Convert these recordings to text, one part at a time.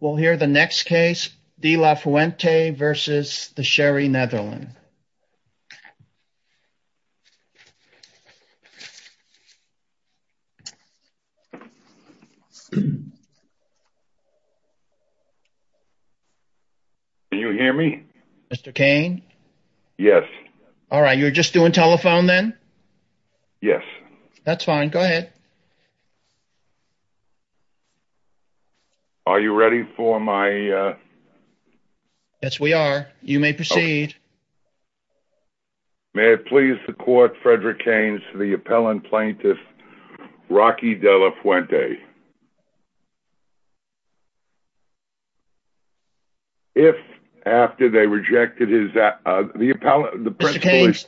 We'll hear the next case, De La Fuente v. The Sherry Netherland. Can you hear me? Mr. Cain? Yes. Alright, you're just doing telephone then? Yes. That's fine, go ahead. Are you ready for my, uh... Yes, we are. You may proceed. May it please the court, Frederick Cains, the appellant plaintiff, Rocky De La Fuente. If, after they rejected his... Mr. Cains,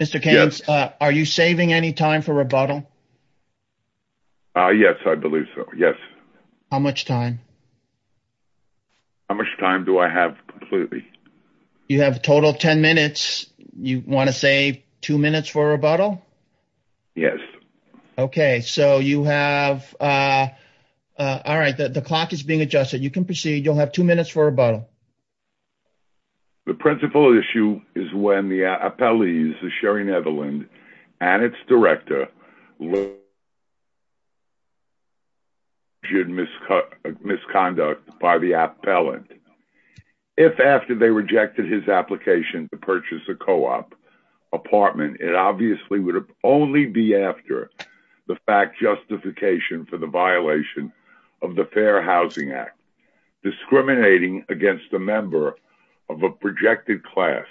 Mr. Cains, are you saving any time for rebuttal? Yes, I believe so, yes. How much time? How much time do I have completely? You have a total of ten minutes. You want to save two minutes for rebuttal? Yes. Okay, so you have, uh... Alright, the clock is being adjusted. You can proceed. You'll have two minutes for rebuttal. The principal issue is when the appellees, the Sherry Netherland, and its director... ...misconduct by the appellant. If, after they rejected his application to purchase a co-op apartment, it obviously would only be after the fact justification for the violation of the Fair Housing Act, discriminating against a member of a projected class,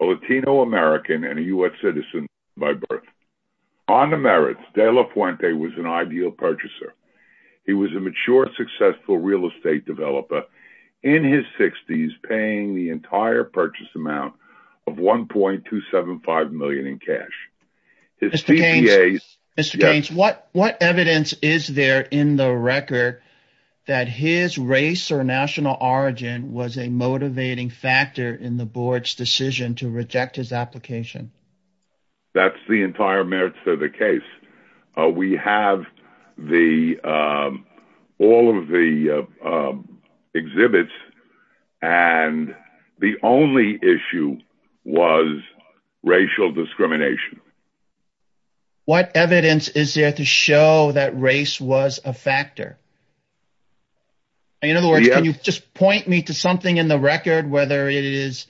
a Latino American and a U.S. citizen by birth. On the merits, De La Fuente was an ideal purchaser. He was a mature, successful real estate developer in his 60s, paying the entire purchase amount of $1.275 million in cash. Mr. Gaines, what evidence is there in the record that his race or national origin was a motivating factor in the board's decision to reject his application? That's the entire merits of the case. We have all of the exhibits, and the only issue was racial discrimination. What evidence is there to show that race was a factor? In other words, can you just point me to something in the record, whether it is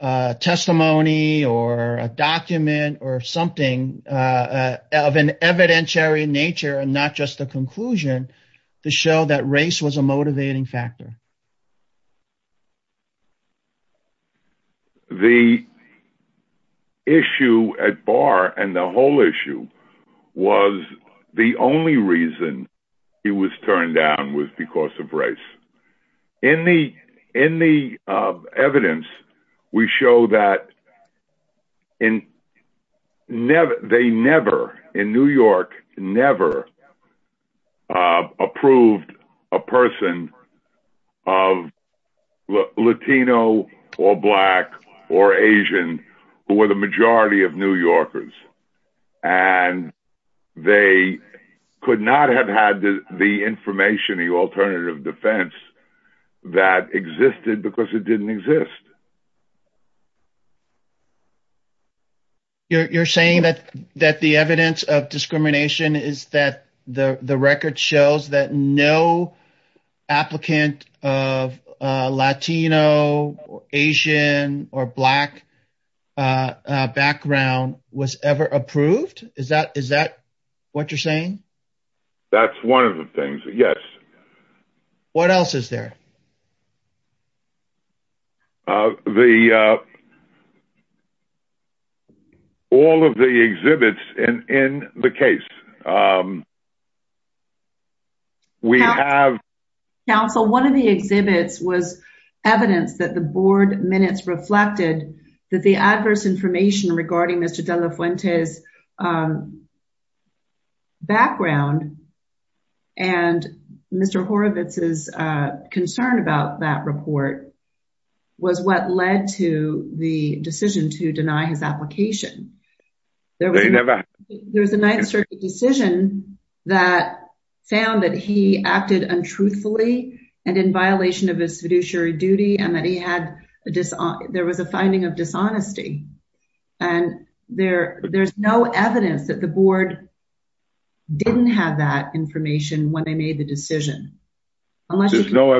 testimony or a document or something of an evidentiary nature and not just a conclusion, to show that race was a motivating factor? The issue at bar and the whole issue was the only reason he was turned down was because of race. In the evidence, we show that they never, in New York, never approved a person of Latino or Black or Asian who were the majority of New Yorkers. They could not have had the information, the alternative defense that existed because it didn't exist. You're saying that the evidence of discrimination is that the record shows that no applicant of Latino or Asian or Black background was ever approved? Is that what you're saying? That's one of the things, yes. What else is there? All of the exhibits in the case, we have- There was a 9th Circuit decision that found that he acted untruthfully and in violation of his fiduciary duty and that there was a finding of dishonesty, and there's no evidence that the board didn't have that information when they made the decision. There's no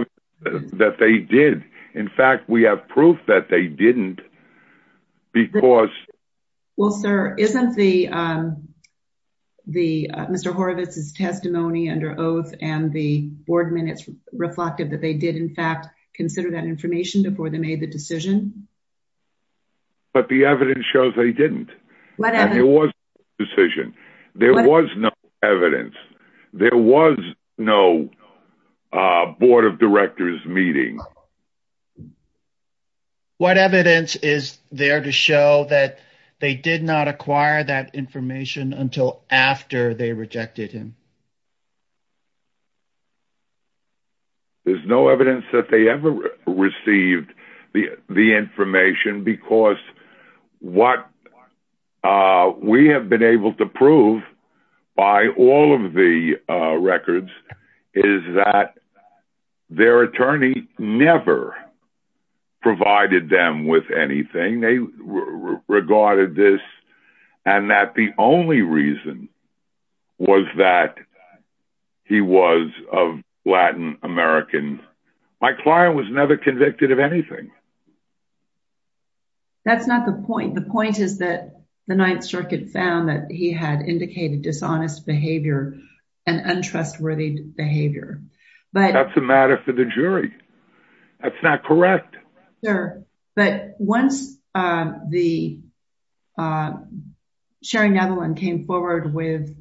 evidence that they did. In fact, we have proof that they didn't because- Well, sir, isn't Mr. Horowitz's testimony under oath and the board minutes reflective that they did, in fact, consider that information before they made the decision? But the evidence shows they didn't. There was no decision. There was no evidence. There was no board of directors meeting. What evidence is there to show that they did not acquire that information until after they rejected him? There's no evidence that they ever received the information because what we have been able to prove by all of the records is that their attorney never provided them with anything. They regarded this and that the only reason was that he was of Latin American. My client was never convicted of anything. That's not the point. The point is that the 9th Circuit found that he had indicated dishonest behavior and untrustworthy behavior. That's a matter for the jury. That's not correct. Sir, but once the sharing of one came forward with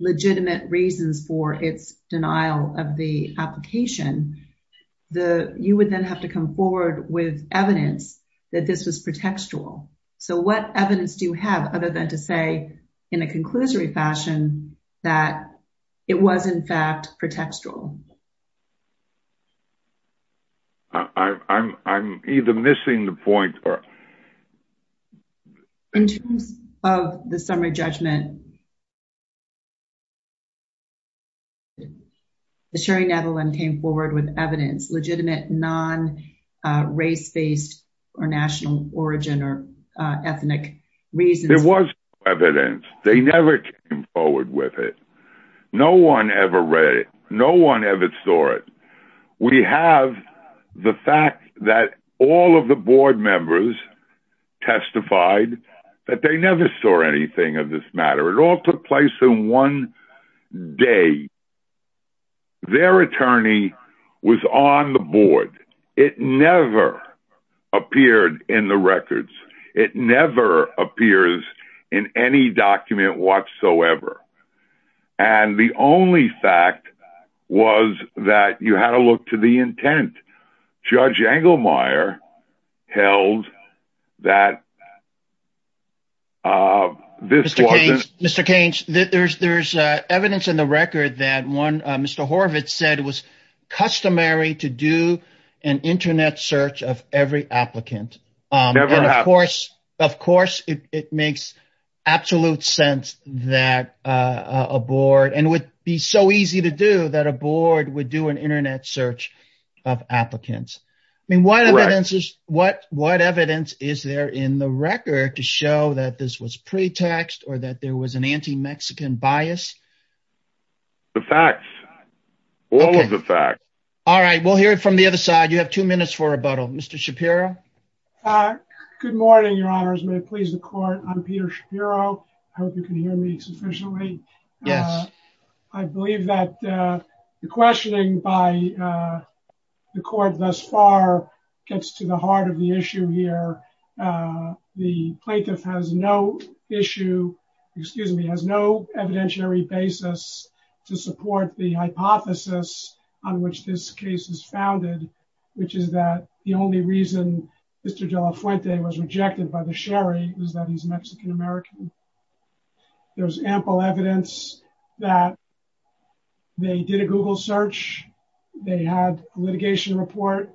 legitimate reasons for its denial of the application, you would then have to come forward with evidence that this was pretextual. So what evidence do you have other than to say in a conclusory fashion that it was, in fact, pretextual? I'm either missing the point or. In terms of the summary judgment, the sharing of one came forward with evidence, legitimate non-race-based or national origin or ethnic reasons. There was evidence. They never came forward with it. No one ever read it. No one ever saw it. We have the fact that all of the board members testified that they never saw anything of this matter. It all took place in one day. Their attorney was on the board. It never appeared in the records. It never appears in any document whatsoever. And the only fact was that you had to look to the intent. Judge Engelmeyer held that. Mr. Keynes, Mr. Keynes, there's there's evidence in the record that one Mr. Horvitz said was customary to do an Internet search of every applicant. Of course, of course, it makes absolute sense that a board and would be so easy to do that a board would do an Internet search of applicants. I mean, what evidence is what what evidence is there in the record to show that this was pretext or that there was an anti-Mexican bias? The facts, all of the facts. All right. We'll hear it from the other side. You have two minutes for rebuttal. Mr. Shapiro. Good morning, Your Honors. May it please the court. I'm Peter Shapiro. I hope you can hear me sufficiently. Yes, I believe that the questioning by the court thus far gets to the heart of the issue here. The plaintiff has no issue, excuse me, has no evidentiary basis to support the hypothesis on which this case is founded, which is that the only reason Mr. Horvitz is Mexican-American. There's ample evidence that they did a Google search. They had litigation report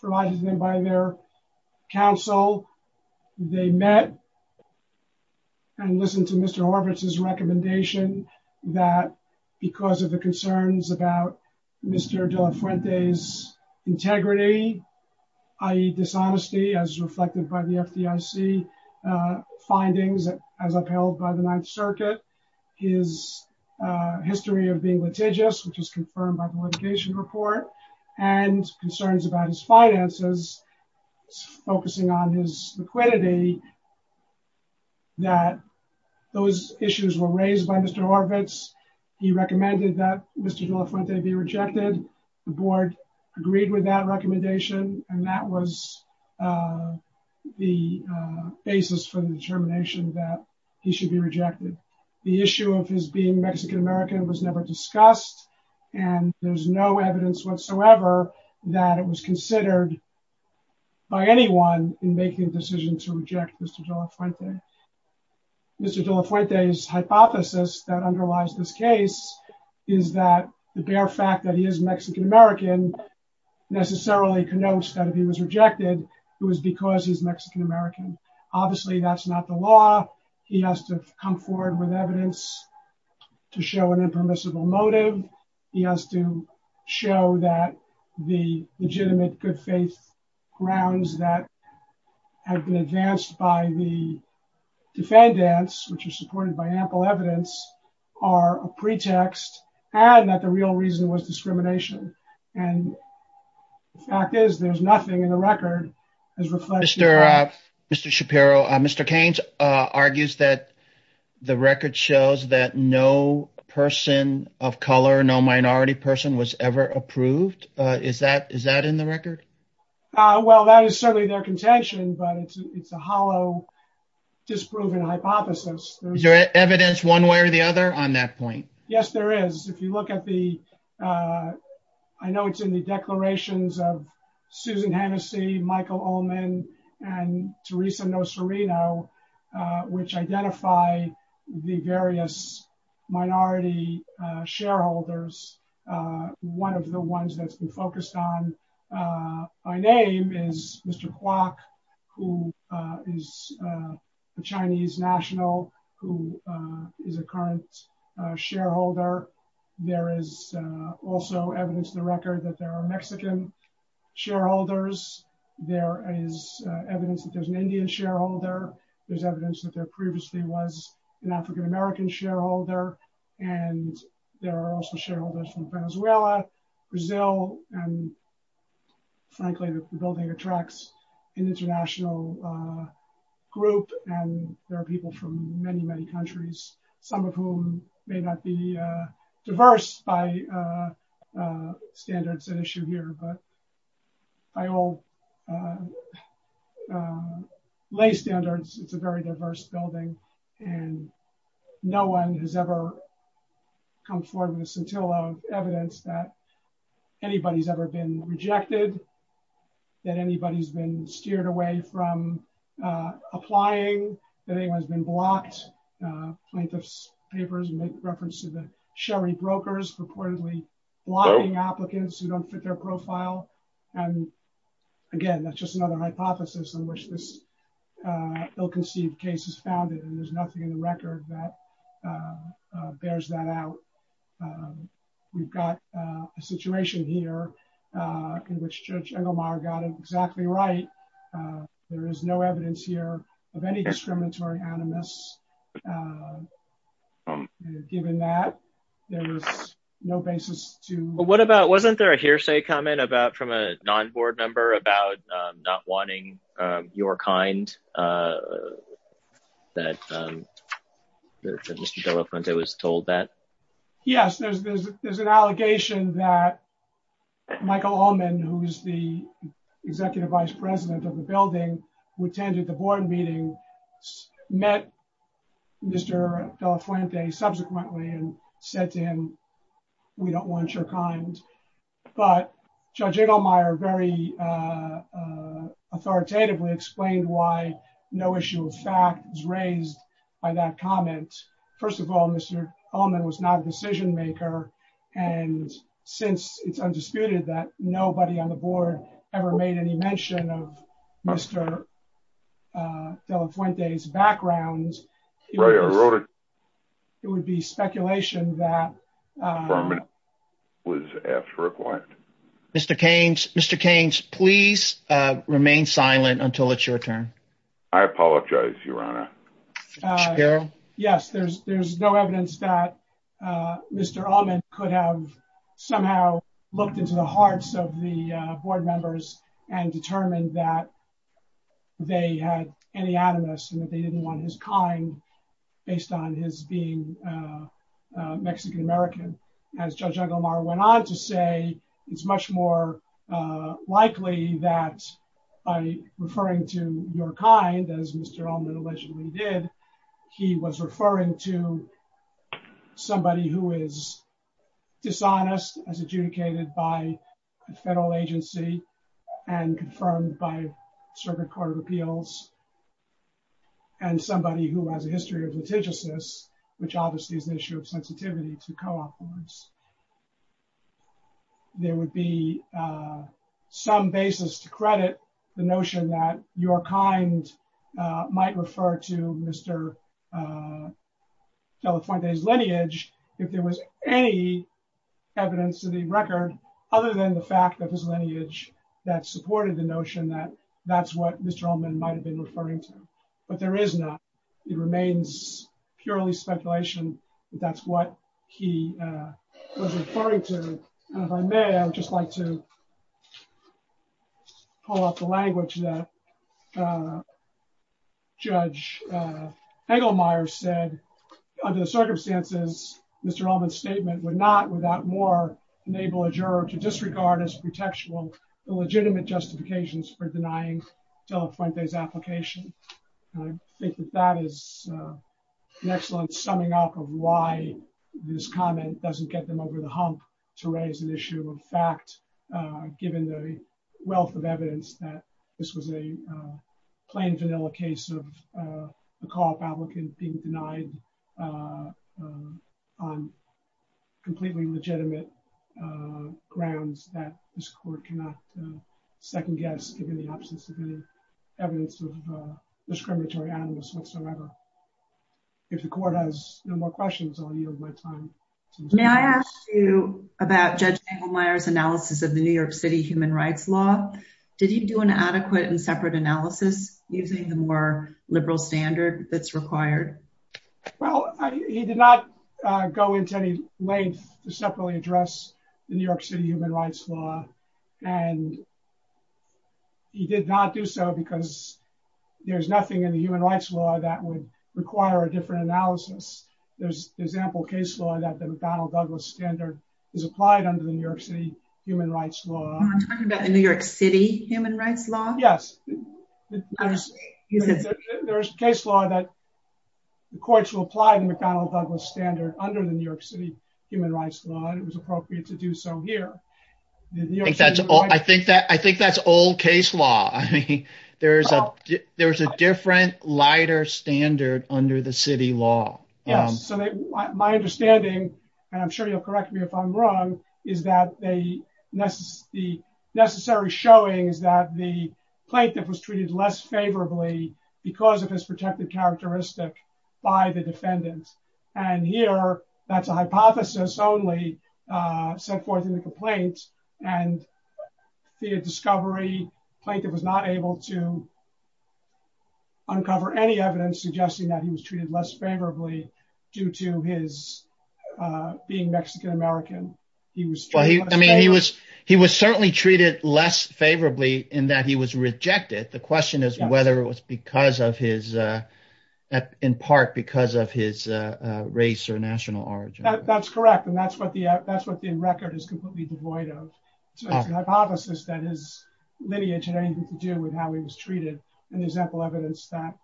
provided them by their counsel. They met. And listen to Mr. Horvitz's recommendation that because of the concerns about Mr. Delafuente's integrity, i.e. dishonesty, as reflected by the FDIC findings as upheld by the Ninth Circuit, his history of being litigious, which is confirmed by the litigation report and concerns about his finances. Focusing on his liquidity. That those issues were raised by Mr. Horvitz. He recommended that Mr. Delafuente be rejected. The board agreed with that recommendation, and that was the basis for the determination that he should be rejected. The issue of his being Mexican-American was never discussed, and there's no evidence whatsoever that it was considered by anyone in making a decision to reject Mr. Delafuente. Mr. Delafuente's hypothesis that underlies this case is that the bare fact that he is Mexican-American necessarily connotes that if he was rejected, it was because he's Mexican-American. Obviously, that's not the law. He has to come forward with evidence to show an impermissible motive. He has to show that the legitimate good faith grounds that have been advanced by the defendants, which are supported by ample evidence, are a pretext and that the real reason was discrimination. And the fact is, there's nothing in the record that reflects that. Mr. Shapiro, Mr. Keynes argues that the record shows that no person of color, no minority person was ever approved. Is that in the record? Well, that is certainly their contention, but it's a hollow, disproven hypothesis. Is there evidence one way or the other on that point? Yes, there is. If you look at the, I know it's in the declarations of Susan Hennessey, Michael Ullman, and Teresa Nocerino, which identify the various minority shareholders. One of the ones that's been focused on by name is Mr. Kwok, who is a Chinese national, who is a current shareholder. There is also evidence in the record that there are Mexican shareholders. There is evidence that there's an Indian shareholder. There's evidence that there previously was an African American shareholder. And there are also shareholders from Venezuela, Brazil, and frankly, the building attracts an international group and there are people from many, many countries, some of whom may not be diverse by standards at issue here. But by all lay standards, it's a very diverse building and no one has ever come forward with a scintilla of evidence that anybody's ever been rejected, that anybody's been steered away from applying, that anyone's been blocked. Plaintiffs' papers make reference to the sherry brokers reportedly blocking applicants who don't fit their profile. And again, that's just another hypothesis on which this ill-conceived case is founded and there's nothing in the record that bears that out. We've got a situation here in which Judge Engelmeyer got it exactly right. There is no evidence here of any discriminatory animus. Given that, there was no basis to... Yes, there's an allegation that Michael Allman, who is the executive vice president of the building, who attended the board meeting, met Mr. De La Fuente subsequently and said to him, we don't want your kind. But Judge Engelmeyer very authoritatively explained why no issue of fact was raised by that comment. First of all, Mr. Allman was not a decision maker. And since it's undisputed that nobody on the board ever made any mention of Mr. De La Fuente's background, it would be speculation that... Mr. Keynes, Mr. Keynes, please remain silent until it's your turn. I apologize, Your Honor. Yes, there's no evidence that Mr. Allman could have somehow looked into the hearts of the board members and determined that they had any animus and that they didn't want his kind based on his being Mexican-American. As Judge Engelmeyer went on to say, it's much more likely that by referring to your kind, as Mr. Allman allegedly did, he was referring to somebody who is dishonest as adjudicated by a federal agency and confirmed by a circuit court of appeals. And somebody who has a history of litigiousness, which obviously is an issue of sensitivity to co-op boards. There would be some basis to credit the notion that your kind might refer to Mr. De La Fuente's lineage if there was any evidence to the record other than the fact that his lineage that supported the notion that that's what Mr. Allman might have been referring to. But there is not. It remains purely speculation that that's what he was referring to. If I may, I would just like to pull up the language that Judge Engelmeyer said, under the circumstances, Mr. Allman's statement would not, without more, enable a juror to disregard as pretextual the legitimate justifications for denying De La Fuente's application. I think that that is an excellent summing up of why this comment doesn't get them over the hump to raise an issue of fact, given the wealth of evidence that this was a plain vanilla case of a co-op applicant being denied on completely legitimate grounds that this court cannot second guess, given the absence of any evidence of discriminatory animus whatsoever. If the court has no more questions, I'll yield my time. May I ask you about Judge Engelmeyer's analysis of the New York City human rights law? Did he do an adequate and separate analysis using the more liberal standard that's required? Well, he did not go into any length to separately address the New York City human rights law, and he did not do so because there's nothing in the human rights law that would require a different analysis. There's ample case law that the McDonnell-Douglas standard is applied under the New York City human rights law. You're talking about the New York City human rights law? Yes. There's case law that the courts will apply the McDonnell-Douglas standard under the New York City human rights law, and it was appropriate to do so here. I think that's old case law. I mean, there's a different, lighter standard under the city law. My understanding, and I'm sure you'll correct me if I'm wrong, is that the necessary showing is that the plaintiff was treated less favorably because of his protected characteristic by the defendant. And here, that's a hypothesis only set forth in the complaint, and via discovery, the plaintiff was not able to uncover any evidence suggesting that he was treated less favorably due to his being Mexican-American. He was certainly treated less favorably in that he was rejected. The question is whether it was in part because of his race or national origin. That's correct, and that's what the record is completely devoid of. So it's a hypothesis that his lineage had anything to do with how he was treated, and there's ample evidence that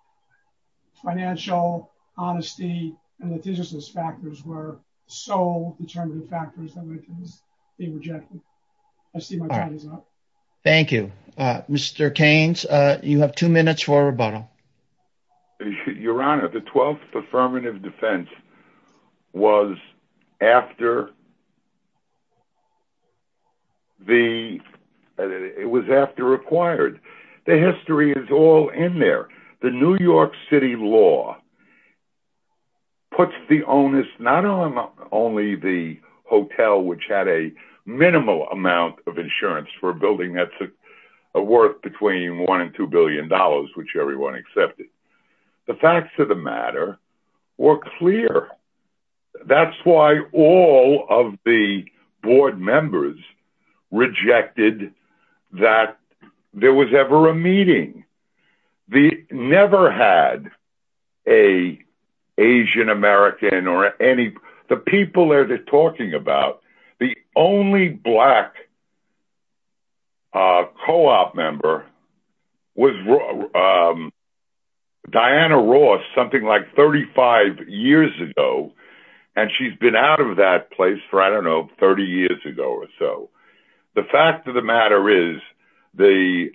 financial honesty and litigiousness factors were sole determinative factors that made him be rejected. I see my time is up. Thank you. Mr. Keynes, you have two minutes for a rebuttal. Your Honor, the 12th Affirmative Defense was after acquired. The history is all in there. The New York City law puts the onus not only on the hotel, which had a minimal amount of insurance for a building that's worth between $1 and $2 billion, which everyone accepted, the facts of the matter were clear. That's why all of the board members rejected that there was ever a meeting. The only black co-op member was Diana Ross, something like 35 years ago, and she's been out of that place for, I don't know, 30 years ago or so. The fact of the matter is the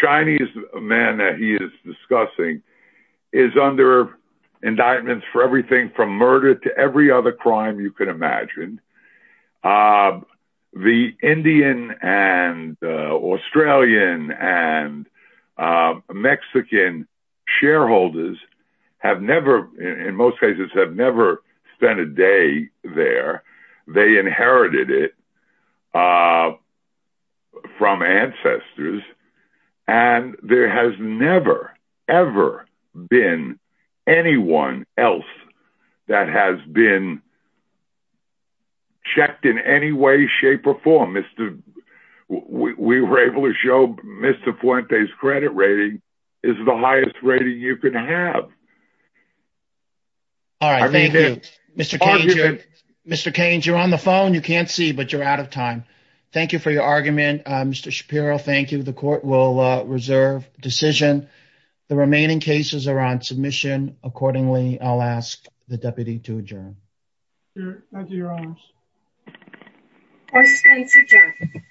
Chinese man that he is discussing is under indictments for everything from murder to every other crime you could imagine. The Indian and Australian and Mexican shareholders have never, in most cases, have never spent a day there. They inherited it from ancestors, and there has never, ever been anyone else that has been checked in any way, shape, or form. We were able to show Mr. Fuente's credit rating is the highest rating you can have. All right, thank you. Mr. Keynes, you're on the phone. You can't see, but you're out of time. Thank you for your argument. Mr. Shapiro, thank you. The court will reserve decision. The remaining cases are on submission. Accordingly, I'll ask the deputy to adjourn. Thank you, Your Honor. Court is adjourned.